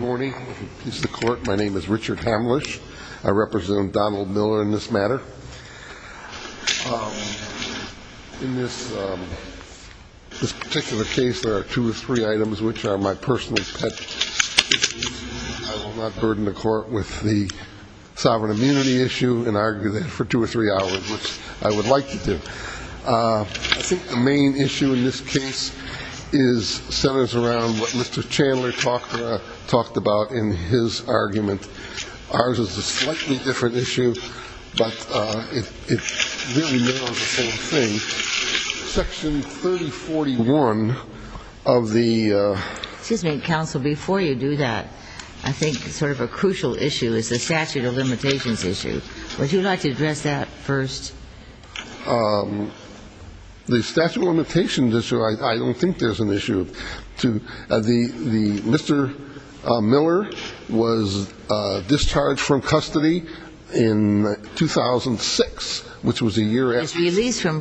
Good morning. If it pleases the Court, my name is Richard Hamlisch. I represent Donald Miller in this matter. In this particular case, there are two or three items which are my personal pet peeves. I will not burden the Court with the sovereign immunity issue and argue that for two or three hours, which I would like to do. I think the main issue in this case centers around what Mr. Chandler talked about in his argument. Ours is a slightly different issue, but it really narrows the whole thing. Section 3041 of the ---- Excuse me, Counsel. Before you do that, I think sort of a crucial issue is the statute of limitations issue. Would you like to address that first? The statute of limitations issue, I don't think there's an issue. Mr. Miller was discharged from custody in 2006, which was a year after ----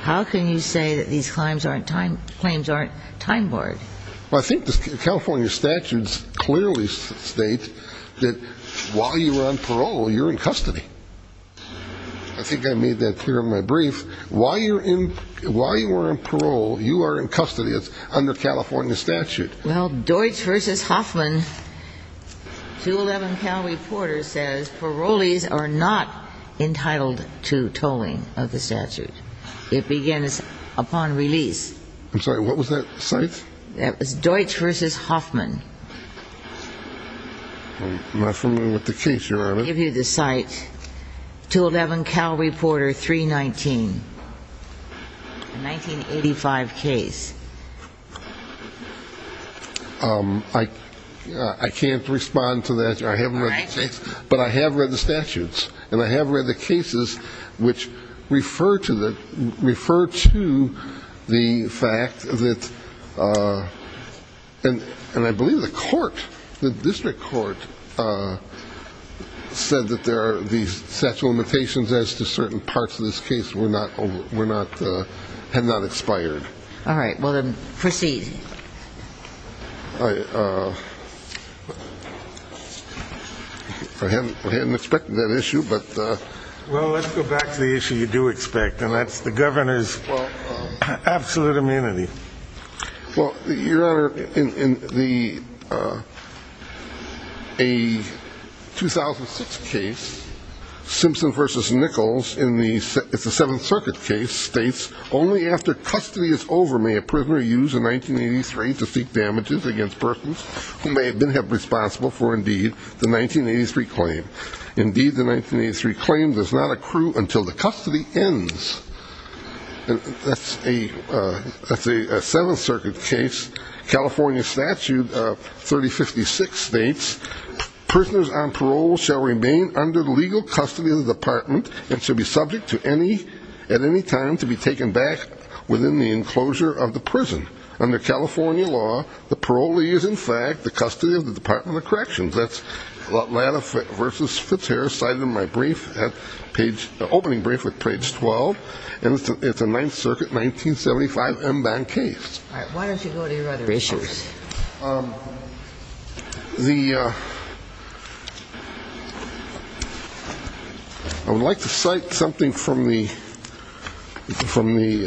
How can you say that these claims aren't time-barred? Well, I think the California statutes clearly state that while you were on parole, you're in custody. I think I made that clear in my brief. While you were on parole, you are in custody. It's under California statute. Well, Deutsch v. Hoffman, 211 Cal Reporter, says parolees are not entitled to tolling of the statute. It begins upon release. I'm sorry. What was that site? That was Deutsch v. Hoffman. I'm not familiar with the case, Your Honor. I'll give you the site. 211 Cal Reporter 319, 1985 case. I can't respond to that. I haven't read the case. All right. But I have read the statutes, and I have read the cases which refer to the fact that ---- And I believe the court, the district court, said that there are these statute limitations as to certain parts of this case had not expired. All right. Well, then proceed. I hadn't expected that issue, but ---- Well, let's go back to the issue you do expect, and that's the governor's absolute immunity. Well, Your Honor, in the 2006 case, Simpson v. Nichols, in the 7th Circuit case, states, Only after custody is over may a prisoner use a 1983 to seek damages against persons who may have been responsible for, indeed, the 1983 claim. Indeed, the 1983 claim does not accrue until the custody ends. That's a 7th Circuit case. California Statute 3056 states, Prisoners on parole shall remain under the legal custody of the department and shall be subject at any time to be taken back within the enclosure of the prison. Under California law, the parolee is, in fact, the custody of the Department of Corrections. That's Atlanta v. Fitzharris cited in my brief at page ---- opening brief at page 12. And it's a 9th Circuit 1975 en banc case. All right. Why don't you go to your other issues? The ---- I would like to cite something from the ---- from the ----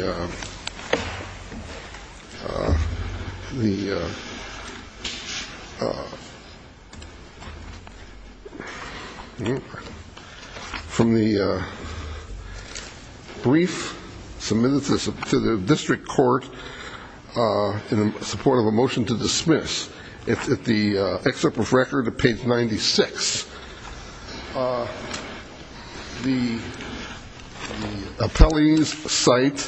the ---- from the brief submitted to the district court in support of a motion to It's at the excerpt of record at page 96. The appellees cite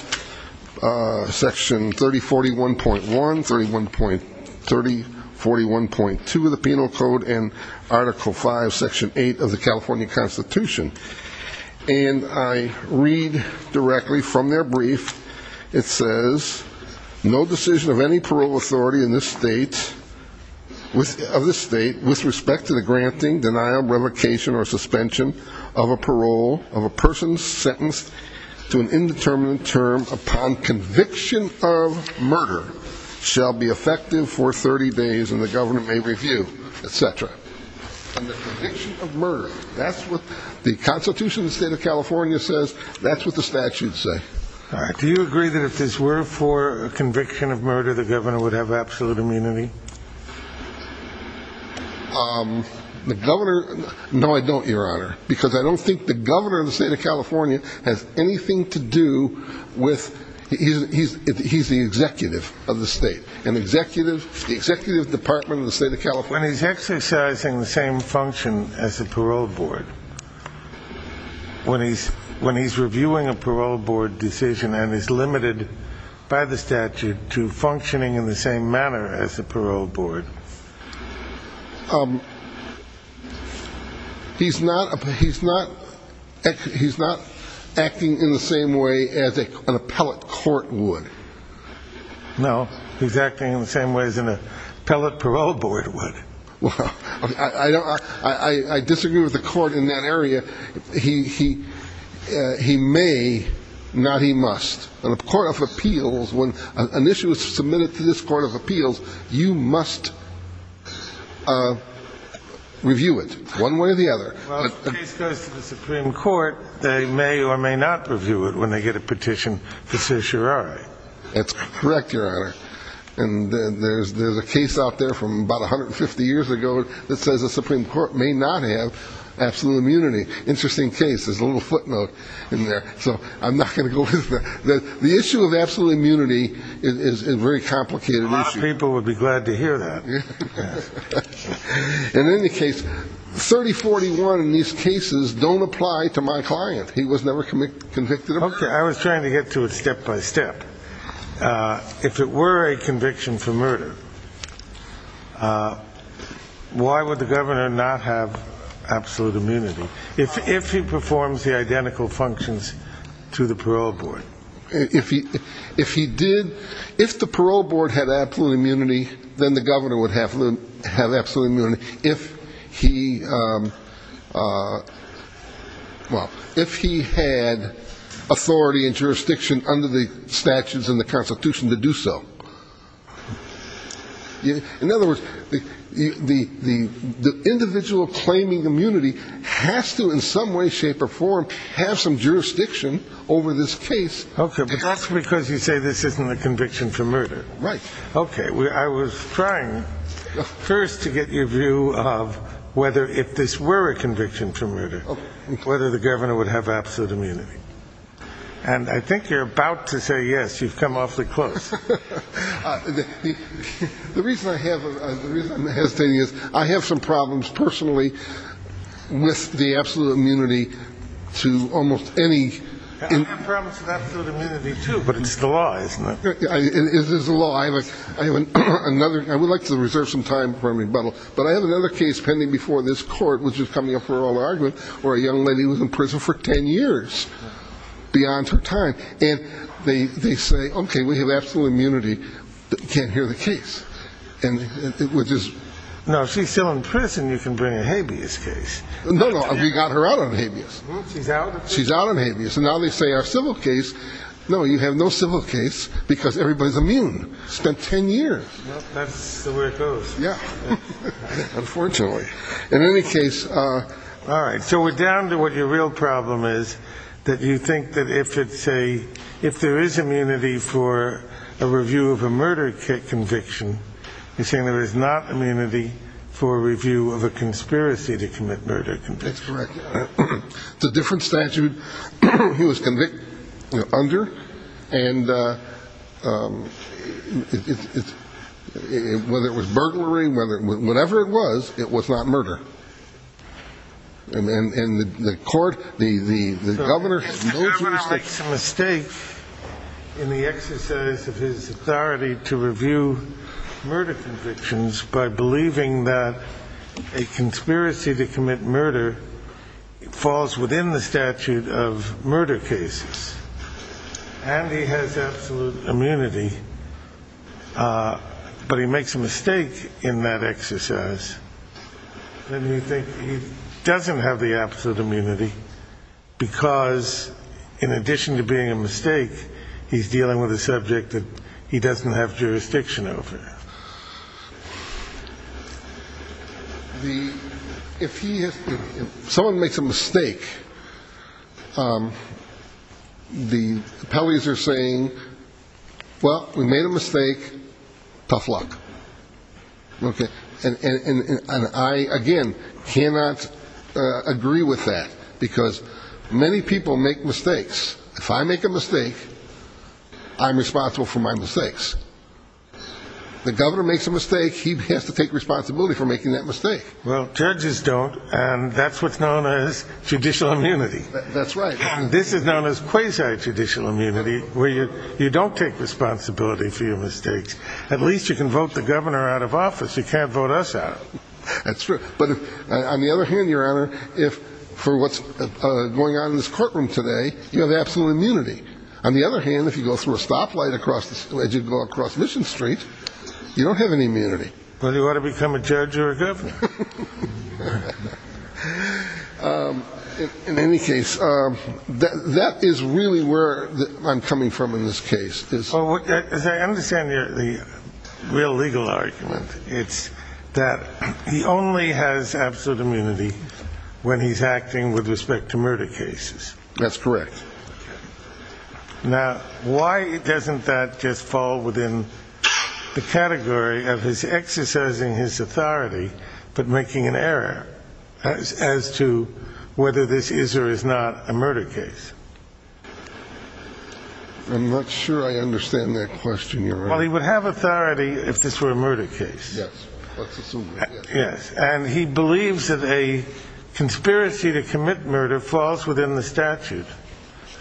section 3041.1, 31.30, 41.2 of the Penal Code, and article 5, section 8 of the California Constitution. And I read directly from their brief. It says, no decision of any parole authority in this state with respect to the granting, denial, revocation, or suspension of a parole of a person sentenced to an indeterminate term upon conviction of murder shall be effective for 30 days and the government may review, etc. And the conviction of murder, that's what the Constitution of the State of California says. That's what the statutes say. All right. Do you agree that if this were for a conviction of murder, the governor would have absolute immunity? The governor, no, I don't, Your Honor, because I don't think the governor of the State of California has anything to do with, he's the executive of the state, an executive, the executive department of the State of California. When he's exercising the same function as the parole board, when he's reviewing a parole board decision and is limited by the statute to functioning in the same manner as the parole board, he's not acting in the same way as an appellate court would. No, he's acting in the same way as an appellate parole board would. Well, I disagree with the court in that area. He may, not he must. In a court of appeals, when an issue is submitted to this court of appeals, you must review it, one way or the other. Well, if the case goes to the Supreme Court, they may or may not review it when they get a petition for certiorari. That's correct, Your Honor. And there's a case out there from about 150 years ago that says the Supreme Court may not have absolute immunity. Interesting case. There's a little footnote in there, so I'm not going to go with that. The issue of absolute immunity is a very complicated issue. A lot of people would be glad to hear that. In any case, 3041 in these cases don't apply to my client. He was never convicted of murder. Okay, I was trying to get to it step by step. If it were a conviction for murder, why would the governor not have absolute immunity if he performs the identical functions to the parole board? If he did, if the parole board had absolute immunity, then the governor would have absolute immunity if he had authority and jurisdiction under the statutes in the Constitution to do so. In other words, the individual claiming immunity has to in some way, shape or form have some jurisdiction over this case. Okay, but that's because you say this isn't a conviction for murder. Right. Okay, I was trying first to get your view of whether if this were a conviction for murder, whether the governor would have absolute immunity. And I think you're about to say yes, you've come awfully close. The reason I'm hesitating is I have some problems personally with the absolute immunity to almost any. I have problems with absolute immunity too, but it's the law, isn't it? It is the law. I would like to reserve some time for rebuttal. But I have another case pending before this court, which is coming up for oral argument, where a young lady was in prison for 10 years beyond her time. And they say, OK, we have absolute immunity. Can't hear the case. And which is now she's still in prison. You can bring a habeas case. No, no. We got her out on habeas. She's out. She's out on habeas. And now they say our civil case. No, you have no civil case because everybody's immune. Spent 10 years. That's the way it goes. Yeah. Unfortunately, in any case. All right. So we're down to what your real problem is, that you think that if it's a if there is immunity for a review of a murder conviction, you're saying there is not immunity for review of a conspiracy to commit murder. That's correct. It's a different statute he was convicted under. And it's whether it was burglary, whether whatever it was, it was not murder. And the court, the governor makes a mistake in the exercise of his authority to review murder convictions by believing that a conspiracy to commit murder falls within the statute of murder cases. And he has absolute immunity. But he makes a mistake in that exercise. Let me think. He doesn't have the absolute immunity because in addition to being a mistake, he's dealing with a subject that he doesn't have jurisdiction over. The if someone makes a mistake, the police are saying, well, we made a mistake. Tough luck. And I, again, cannot agree with that because many people make mistakes. If I make a mistake, I'm responsible for my mistakes. The governor makes a mistake. He has to take responsibility for making that mistake. Well, judges don't. And that's what's known as judicial immunity. That's right. This is known as quasi judicial immunity, where you don't take responsibility for your mistakes. At least you can vote the governor out of office. You can't vote us out. That's true. But on the other hand, Your Honor, if for what's going on in this courtroom today, you have absolute immunity. On the other hand, if you go through a stoplight as you go across Mission Street, you don't have any immunity. Well, you ought to become a judge or a governor. In any case, that is really where I'm coming from in this case. As I understand the real legal argument, it's that he only has absolute immunity when he's acting with respect to murder cases. That's correct. Now, why doesn't that just fall within the category of his exercising his authority but making an error as to whether this is or is not a murder case? I'm not sure I understand that question, Your Honor. Well, he would have authority if this were a murder case. Yes. Let's assume it is. Yes. And he believes that a conspiracy to commit murder falls within the statute,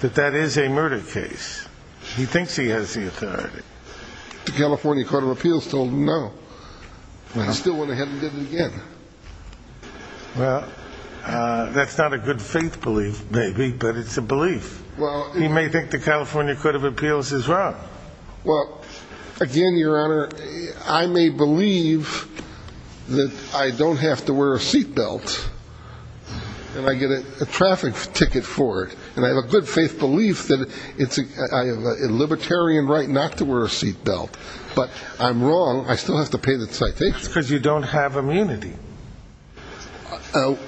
that that is a murder case. He thinks he has the authority. The California Court of Appeals told him no. He still went ahead and did it again. Well, that's not a good faith belief, maybe, but it's a belief. He may think the California Court of Appeals is wrong. Well, again, Your Honor, I may believe that I don't have to wear a seat belt and I get a traffic ticket for it, and I have a good faith belief that I have a libertarian right not to wear a seat belt, but I'm wrong. I still have to pay the ticket. That's because you don't have immunity.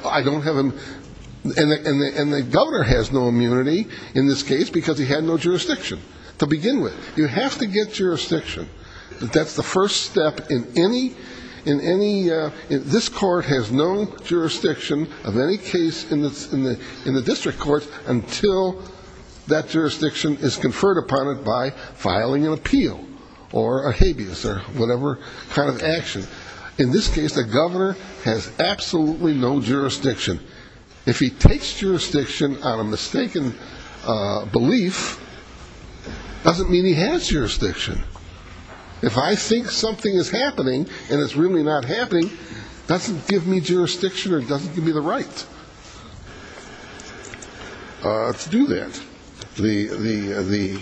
I don't have immunity. And the governor has no immunity in this case because he had no jurisdiction to begin with. You have to get jurisdiction. That's the first step in any ‑‑ this court has no jurisdiction of any case in the district court until that jurisdiction is conferred upon it by filing an appeal or a habeas or whatever kind of action. In this case, the governor has absolutely no jurisdiction. If he takes jurisdiction on a mistaken belief, it doesn't mean he has jurisdiction. If I think something is happening and it's really not happening, it doesn't give me jurisdiction or it doesn't give me the right to do that. The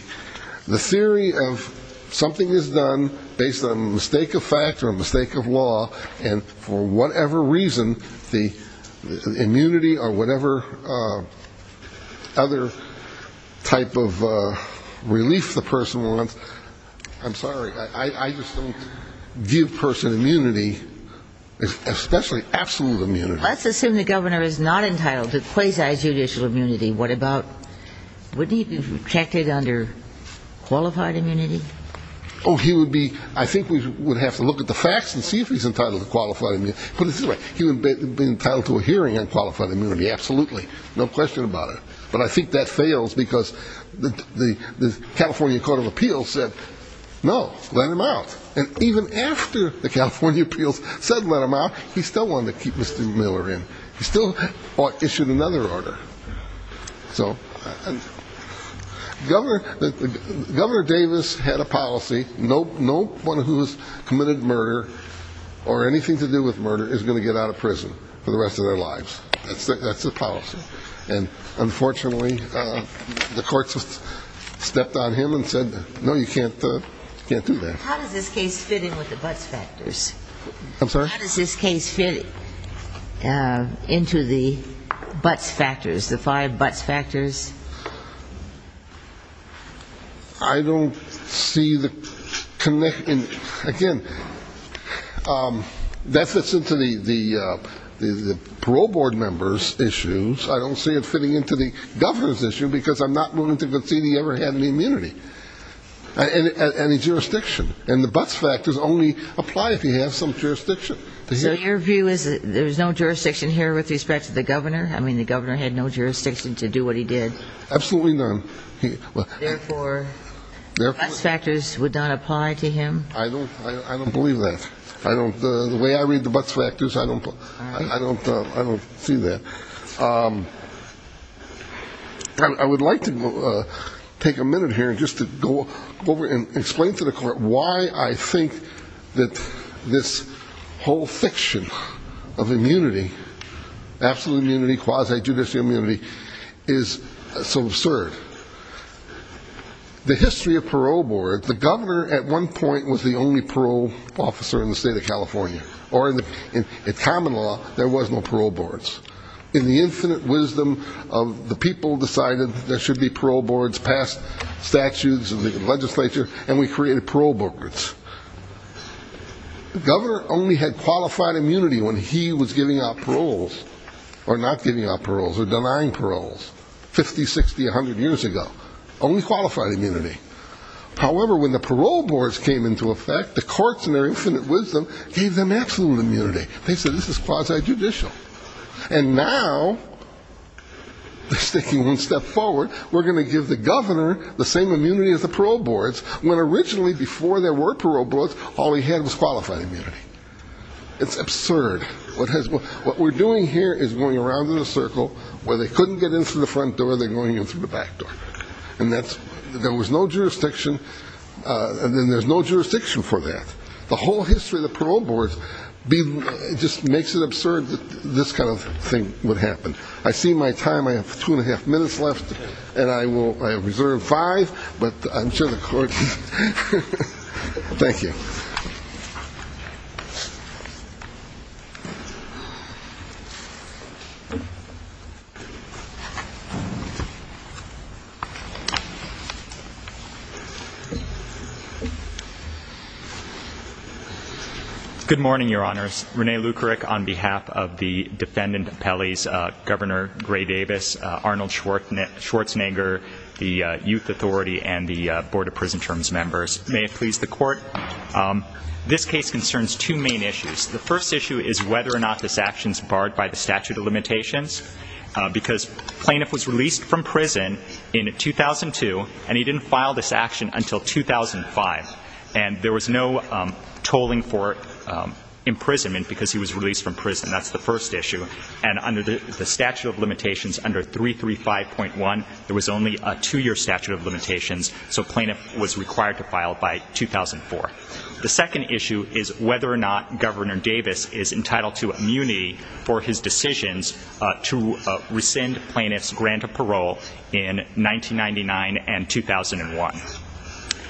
theory of something is done based on a mistake of fact or a mistake of law, and for whatever reason the immunity or whatever other type of relief the person wants, I'm sorry, I just don't view person immunity, especially absolute immunity. Let's assume the governor is not entitled to quasi judicial immunity. Wouldn't he be protected under qualified immunity? Oh, he would be ‑‑ I think we would have to look at the facts and see if he's entitled to qualified immunity. He would be entitled to a hearing on qualified immunity, absolutely, no question about it. But I think that fails because the California Court of Appeals said no, let him out. And even after the California appeals said let him out, he still wanted to keep Mr. Miller in. He still issued another order. So Governor Davis had a policy, no one who has committed murder or anything to do with murder is going to get out of prison for the rest of their lives. That's the policy. And unfortunately the courts stepped on him and said, no, you can't do that. How does this case fit in with the Butts factors? I'm sorry? How does this case fit into the Butts factors, the five Butts factors? I don't see the connection. Again, that fits into the parole board members' issues. I don't see it fitting into the governor's issue because I'm not willing to concede he ever had any immunity, any jurisdiction. And the Butts factors only apply if he has some jurisdiction. So your view is that there's no jurisdiction here with respect to the governor? I mean, the governor had no jurisdiction to do what he did. Absolutely none. Therefore, Butts factors would not apply to him? I don't believe that. The way I read the Butts factors, I don't see that. I would like to take a minute here just to go over and explain to the court why I think that this whole fiction of immunity, absolute immunity, quasi-judicial immunity, is so absurd. The history of parole boards, the governor at one point was the only parole officer in the state of California. Or in common law, there was no parole boards. In the infinite wisdom of the people who decided there should be parole boards, passed statutes of the legislature, and we created parole boards. The governor only had qualified immunity when he was giving out paroles or not giving out paroles or denying paroles 50, 60, 100 years ago. Only qualified immunity. However, when the parole boards came into effect, the courts, in their infinite wisdom, gave them absolute immunity. They said this is quasi-judicial. And now, taking one step forward, we're going to give the governor the same immunity as the parole boards, when originally, before there were parole boards, all he had was qualified immunity. It's absurd. What we're doing here is going around in a circle, where they couldn't get in through the front door, they're going in through the back door. There was no jurisdiction, and there's no jurisdiction for that. The whole history of the parole boards just makes it absurd that this kind of thing would happen. I see my time, I have two and a half minutes left, and I have reserved five, but I'm sure the court... Thank you. Good morning, Your Honors. Rene Lukerik, on behalf of the defendant, Pelley's governor, Gray Davis, Arnold Schwarzenegger, the Youth Authority, and the Board of Prison Terms members. May it please the court, this case concerns two main issues. The first issue is whether or not this action is barred by the statute of limitations, because plaintiff was released from prison in 2002, and he didn't file this action until 2005. And there was no tolling for imprisonment, because he was released from prison. That's the first issue. And under the statute of limitations, under 335.1, there was only a two-year statute of limitations, so plaintiff was required to file by 2004. The second issue is whether or not Governor Davis is entitled to immunity for his decisions to rescind plaintiff's grant of parole in 1999 and 2001.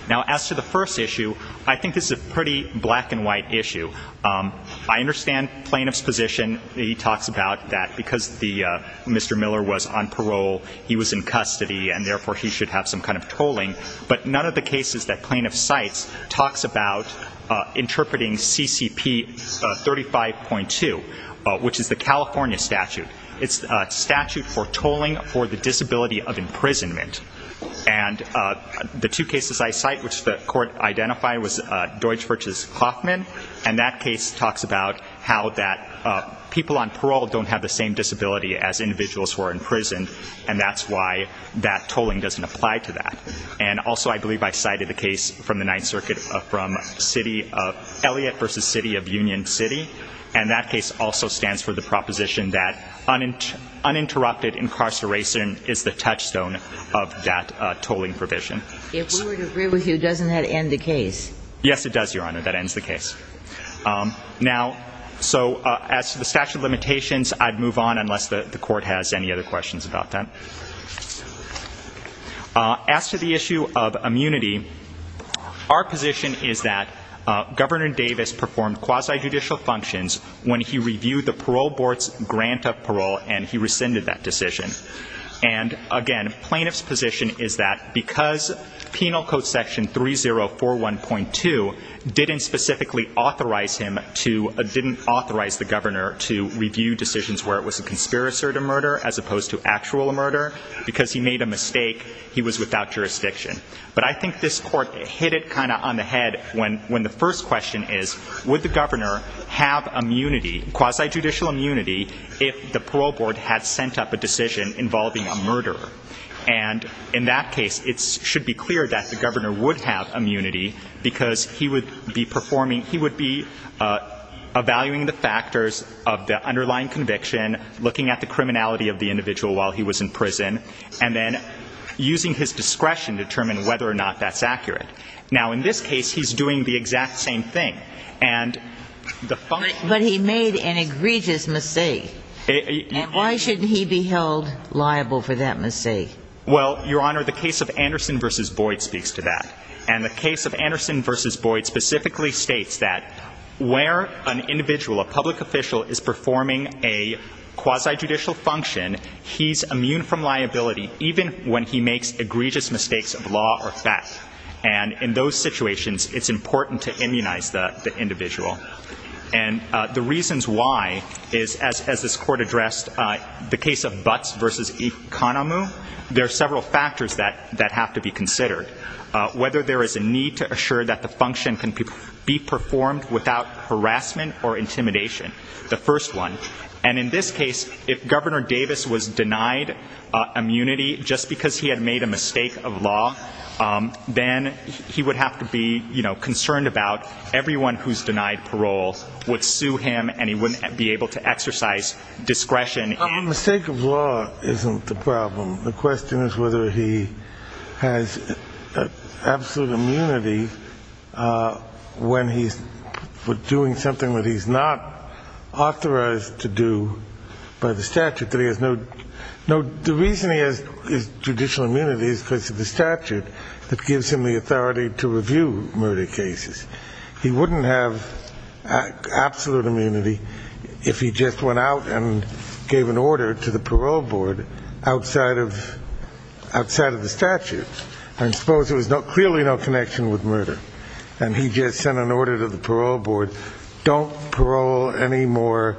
Now, as to the first issue, I think this is a pretty black-and-white issue. I understand plaintiff's position. He talks about that because Mr. Miller was on parole, he was in custody, and therefore he should have some kind of tolling. But none of the cases that plaintiff cites talks about interpreting CCP 35.2, which is the California statute. It's a statute for tolling for the disability of imprisonment. And the two cases I cite, which the court identified, was Deutsch v. Kloffman, and that case talks about how that people on parole don't have the same disability as individuals who are imprisoned, and that's why that tolling doesn't apply to that. And also I believe I cited the case from the Ninth Circuit from City of Elliott v. City of Union City, and that case also stands for the proposition that uninterrupted incarceration is the touchstone of that tolling provision. If we were to agree with you, doesn't that end the case? Yes, it does, Your Honor. That ends the case. Now, so as to the statute of limitations, I'd move on unless the court has any other questions about that. As to the issue of immunity, our position is that Governor Davis performed quasi-judicial functions when he reviewed the parole board's grant of parole and he rescinded that decision. And, again, plaintiff's position is that because Penal Code Section 3041.2 didn't specifically authorize him to, didn't authorize the governor to review decisions where it was a conspiracy to murder as opposed to actual murder, because he made a mistake, he was without jurisdiction. But I think this court hit it kind of on the head when the first question is, would the governor have immunity, quasi-judicial immunity, if the parole board had sent up a decision involving a murderer? And in that case, it should be clear that the governor would have immunity because he would be performing, he would be evaluating the factors of the underlying conviction, looking at the criminality of the individual while he was in prison, and then using his discretion to determine whether or not that's accurate. Now, in this case, he's doing the exact same thing. And the function of the case is that he's immune from liability. But he made an egregious mistake. And why shouldn't he be held liable for that mistake? Well, Your Honor, the case of Anderson v. Boyd speaks to that. And the case of Anderson v. Boyd specifically states that where an individual, a public official, is performing a quasi-judicial function, he's immune from liability even when he makes egregious mistakes of law or fact. And in those situations, it's important to immunize the individual. And the reasons why is, as this Court addressed, the case of Butts v. Economou, there are several factors that have to be considered, whether there is a need to assure that the function can be performed without harassment or intimidation, the first one. And in this case, if Governor Davis was denied immunity just because he had made a mistake of law, then he would have to be, you know, concerned about everyone who's denied parole would sue him and he wouldn't be able to exercise discretion. A mistake of law isn't the problem. The question is whether he has absolute immunity when he's doing something that he's not authorized to do by the statute. The reason he has judicial immunity is because of the statute that gives him the authority to review murder cases. He wouldn't have absolute immunity if he just went out and gave an order to the parole board outside of the statute. And suppose there was clearly no connection with murder and he just sent an order to the parole board, don't parole any more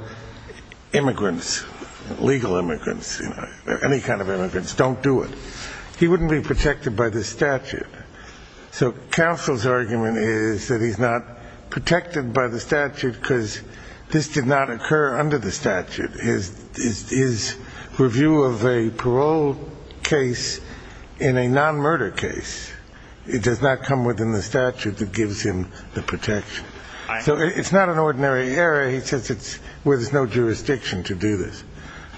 immigrants, legal immigrants, any kind of immigrants, don't do it. He wouldn't be protected by the statute. So counsel's argument is that he's not protected by the statute because this did not occur under the statute. His review of a parole case in a non-murder case, it does not come within the statute that gives him the protection. So it's not an ordinary error. He says it's where there's no jurisdiction to do this.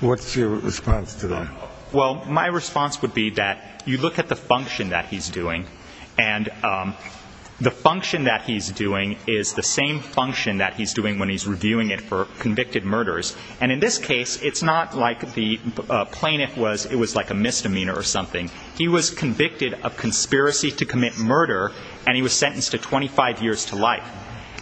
What's your response to that? Well, my response would be that you look at the function that he's doing. And the function that he's doing is the same function that he's doing when he's reviewing it for convicted murders. And in this case, it's not like the plaintiff was ‑‑ it was like a misdemeanor or something. He was convicted of conspiracy to commit murder and he was sentenced to 25 years to life.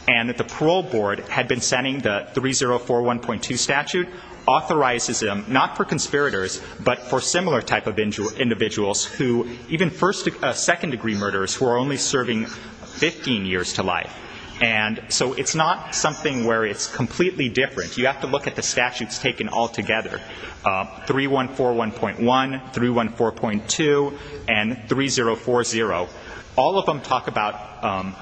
And that the parole board had been sending the 3041.2 statute authorizes him not for conspirators but for similar type of individuals who even first‑degree ‑‑ second‑degree murderers who are only serving 15 years to life. And so it's not something where it's completely different. You have to look at the statutes taken altogether, 3141.1, 314.2, and 3040. All of them talk about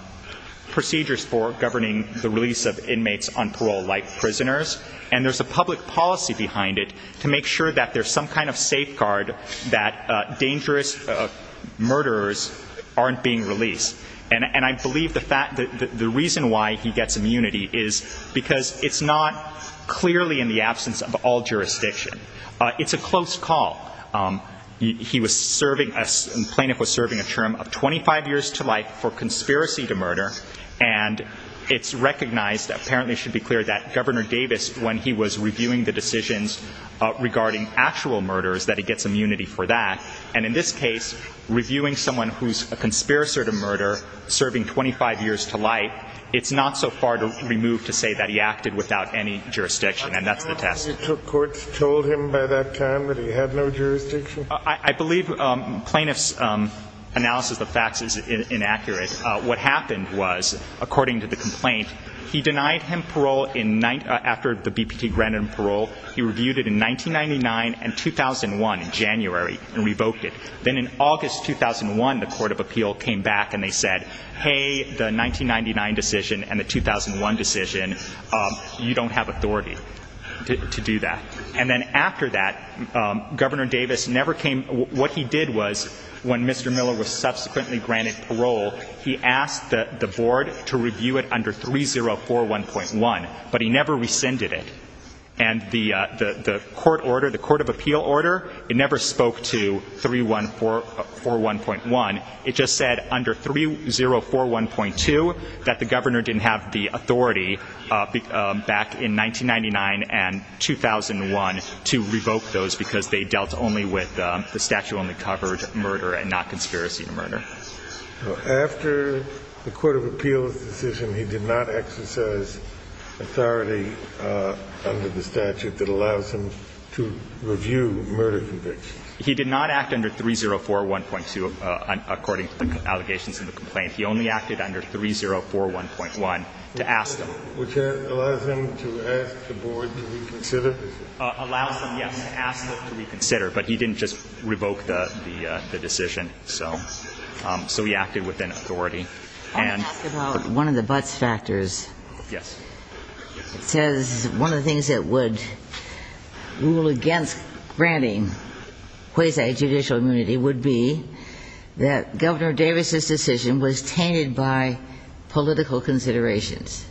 procedures for governing the release of inmates on parole like prisoners. And there's a public policy behind it to make sure that there's some kind of safeguard that dangerous murderers aren't being released. And I believe the reason why he gets immunity is because it's not clearly in the absence of all jurisdiction. It's a close call. He was serving ‑‑ the plaintiff was serving a term of 25 years to life for conspiracy to murder. And it's recognized, apparently it should be clear, that Governor Davis, when he was reviewing the decisions regarding actual murders, that he gets immunity for that. And in this case, reviewing someone who's a conspirator to murder serving 25 years to life, it's not so far removed to say that he acted without any jurisdiction. And that's the test. So courts told him by that time that he had no jurisdiction? I believe plaintiff's analysis of facts is inaccurate. What happened was, according to the complaint, he denied him parole after the BPT granted him parole. He reviewed it in 1999 and 2001 in January and revoked it. Then in August 2001, the Court of Appeal came back and they said, hey, the 1999 decision and the 2001 decision, you don't have authority to do that. And then after that, Governor Davis never came ‑‑ what he did was, when Mr. Miller was subsequently granted parole, he asked the board to review it under 3041.1, but he never rescinded it. And the court order, the Court of Appeal order, it never spoke to 3141.1. It just said under 3041.2 that the governor didn't have the authority back in 1999 and 2001 to revoke those because they dealt only with the statute-only coverage of murder and not conspiracy to murder. After the Court of Appeal's decision, he did not exercise authority under the statute that allows him to review murder convictions? He did not act under 3041.2 according to the allegations in the complaint. He only acted under 3041.1 to ask them. Which allows him to ask the board to reconsider? Allows them, yes, to ask them to reconsider. But he didn't just revoke the decision. So he acted within authority. I want to ask about one of the buts factors. Yes. It says one of the things that would rule against granting quasi-judicial immunity would be that Governor Davis's decision was tainted by political considerations.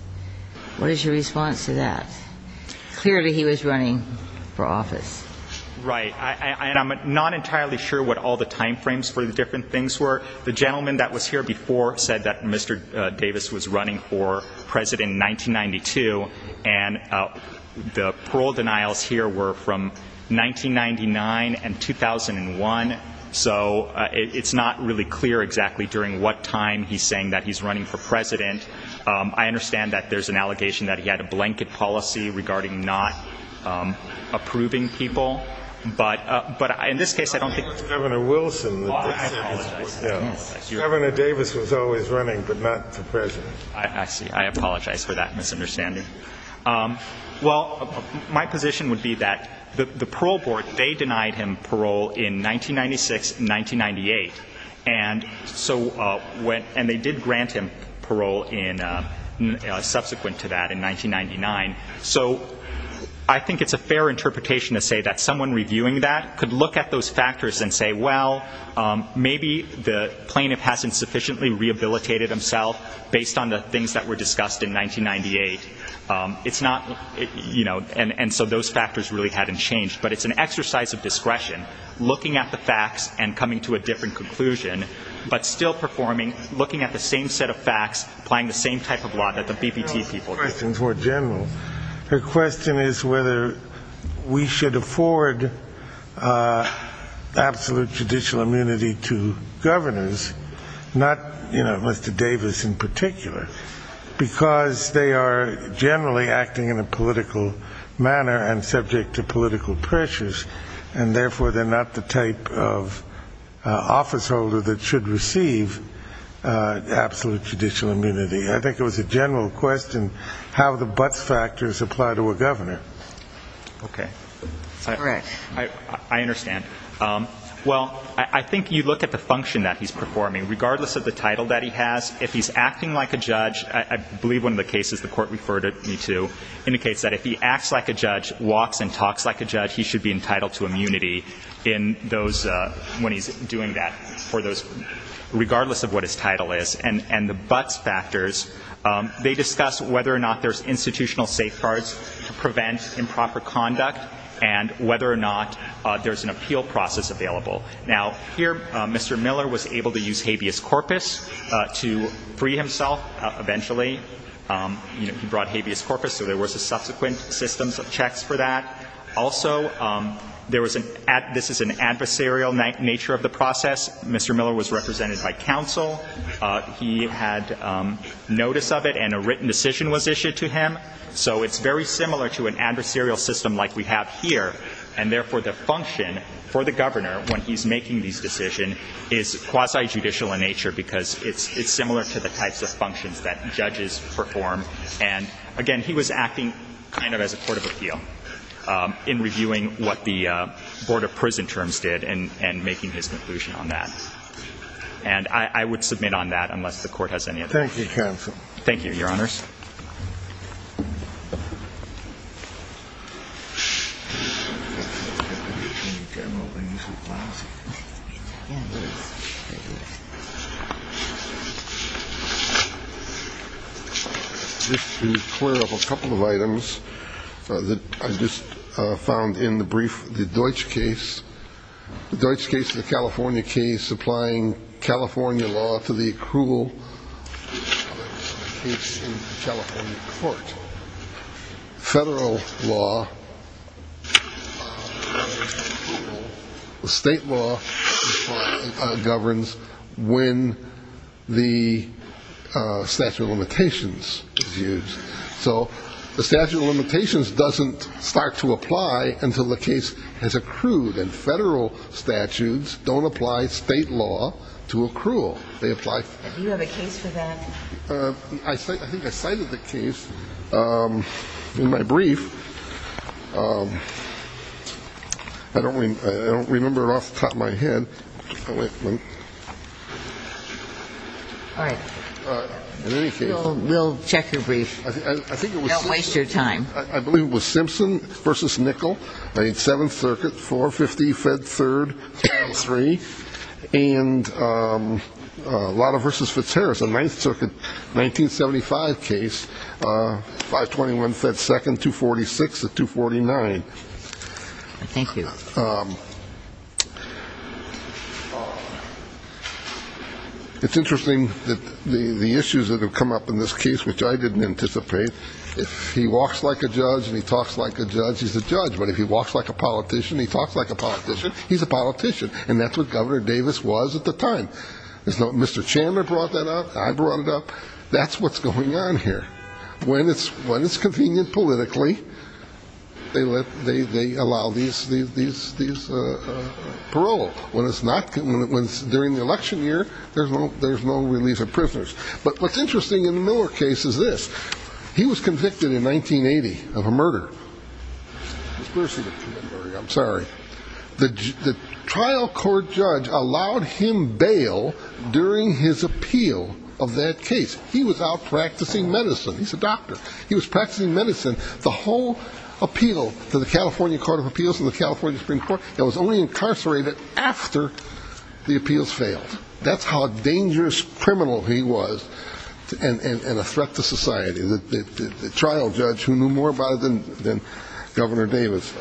What is your response to that? Clearly, he was running for office. Right. And I'm not entirely sure what all the timeframes for the different things were. The gentleman that was here before said that Mr. Davis was running for president in 1992, and the parole denials here were from 1999 and 2001. So it's not really clear exactly during what time he's saying that he's running for president. I understand that there's an allegation that he had a blanket policy regarding not approving people. But in this case, I don't think that's true. Governor Davis was always running, but not the president. I see. I apologize for that misunderstanding. Well, my position would be that the parole board, they denied him parole in 1996 and 1998, and they did grant him parole subsequent to that in 1999. So I think it's a fair interpretation to say that someone reviewing that could look at those factors and say, well, maybe the plaintiff hasn't sufficiently rehabilitated himself based on the things that were discussed in 1998. It's not, you know, and so those factors really hadn't changed. But it's an exercise of discretion, looking at the facts and coming to a different conclusion, but still performing, looking at the same set of facts, applying the same type of law that the BPT people did. Her question is whether we should afford absolute judicial immunity to governors, not, you know, Mr. Davis in particular, because they are generally acting in a political manner and subject to political pressures, and therefore they're not the type of officeholder that should receive absolute judicial immunity. I think it was a general question how the buts factors apply to a governor. Okay. All right. I understand. Well, I think you look at the function that he's performing. Regardless of the title that he has, if he's acting like a judge, I believe one of the cases the court referred me to indicates that if he acts like a judge, walks and talks like a judge, he should be entitled to immunity when he's doing that, regardless of what his title is. And the buts factors, they discuss whether or not there's institutional safeguards to prevent improper conduct and whether or not there's an appeal process available. Now, here Mr. Miller was able to use habeas corpus to free himself eventually. You know, he brought habeas corpus, so there was a subsequent system of checks for that. Also, there was an ad – this is an adversarial nature of the process. Mr. Miller was represented by counsel. He had notice of it and a written decision was issued to him. So it's very similar to an adversarial system like we have here, and therefore the function for the governor when he's making these decisions is quasi-judicial in nature because it's similar to the types of functions that judges perform. And, again, he was acting kind of as a court of appeal in reviewing what the Board of Prison Terms did and making his conclusion on that. And I would submit on that unless the Court has any other questions. Thank you, counsel. Thank you, Your Honors. Just to clear up a couple of items that I just found in the brief, the Deutsch case, the California case applying California law to the accrual case in the California court. Federal law governs approval. The state law governs when the statute of limitations is used. So the statute of limitations doesn't start to apply until the case has accrued and federal statutes don't apply state law to accrual. Do you have a case for that? I think I cited the case in my brief. I don't remember it off the top of my head. All right. We'll check your brief. Don't waste your time. I believe it was Simpson v. Nickel, 8th 7th Circuit, 450 Fed 3rd, 3. And Lotta v. Fitzharris, a 9th Circuit, 1975 case, 521 Fed 2nd, 246 to 249. Thank you. It's interesting that the issues that have come up in this case, which I didn't anticipate, if he walks like a judge and he talks like a judge, he's a judge. But if he walks like a politician and he talks like a politician, he's a politician. And that's what Governor Davis was at the time. Mr. Chandler brought that up. I brought it up. That's what's going on here. When it's convenient politically, they allow these parole. When it's during the election year, there's no release of prisoners. But what's interesting in the Miller case is this. He was convicted in 1980 of a murder. I'm sorry. The trial court judge allowed him bail during his appeal of that case. He was out practicing medicine. He's a doctor. He was practicing medicine. The whole appeal to the California Court of Appeals and the California Supreme Court, he was only incarcerated after the appeals failed. That's how dangerous a criminal he was and a threat to society, the trial judge who knew more about it than Governor Davis.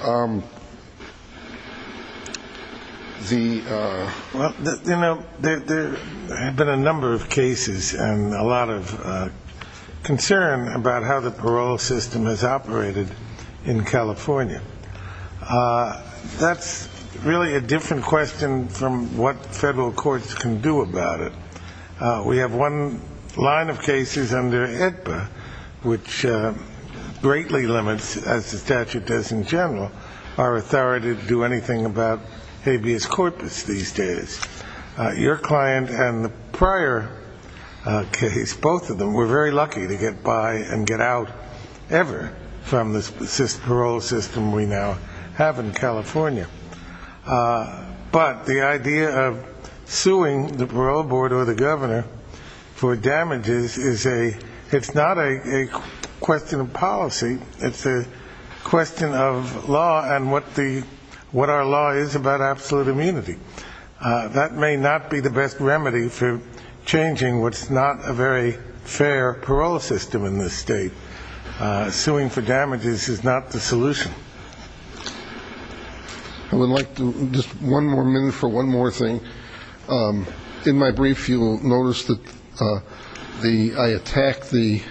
You know, there have been a number of cases and a lot of concern about how the parole system has operated in California. That's really a different question from what federal courts can do about it. We have one line of cases under AEDPA, which greatly limits, as the statute does in general, our authority to do anything about habeas corpus these days. Your client and the prior case, both of them, were very lucky to get by and get out ever from the parole system we now have in California. But the idea of suing the parole board or the governor for damages, it's not a question of policy. It's a question of law and what our law is about absolute immunity. That may not be the best remedy for changing what's not a very fair parole system in this state. Suing for damages is not the solution. I would like just one more minute for one more thing. In my brief, you'll notice that I attack the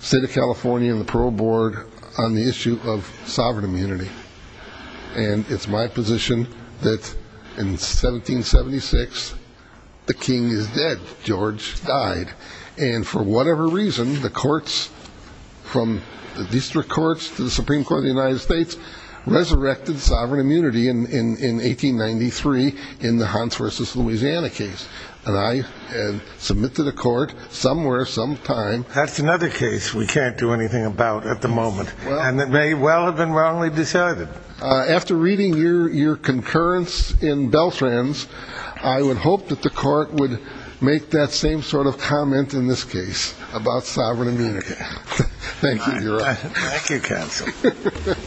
state of California and the parole board on the issue of sovereign immunity. And it's my position that in 1776, the king is dead. George died. And for whatever reason, the courts, from the district courts to the Supreme Court of the United States, resurrected sovereign immunity in 1893 in the Hans v. Louisiana case. And I submit to the court somewhere sometime. That's another case we can't do anything about at the moment. And it may well have been wrongly decided. After reading your concurrence in Beltrans, I would hope that the court would make that same sort of comment in this case about sovereign immunity. Thank you, Your Honor. Thank you, counsel.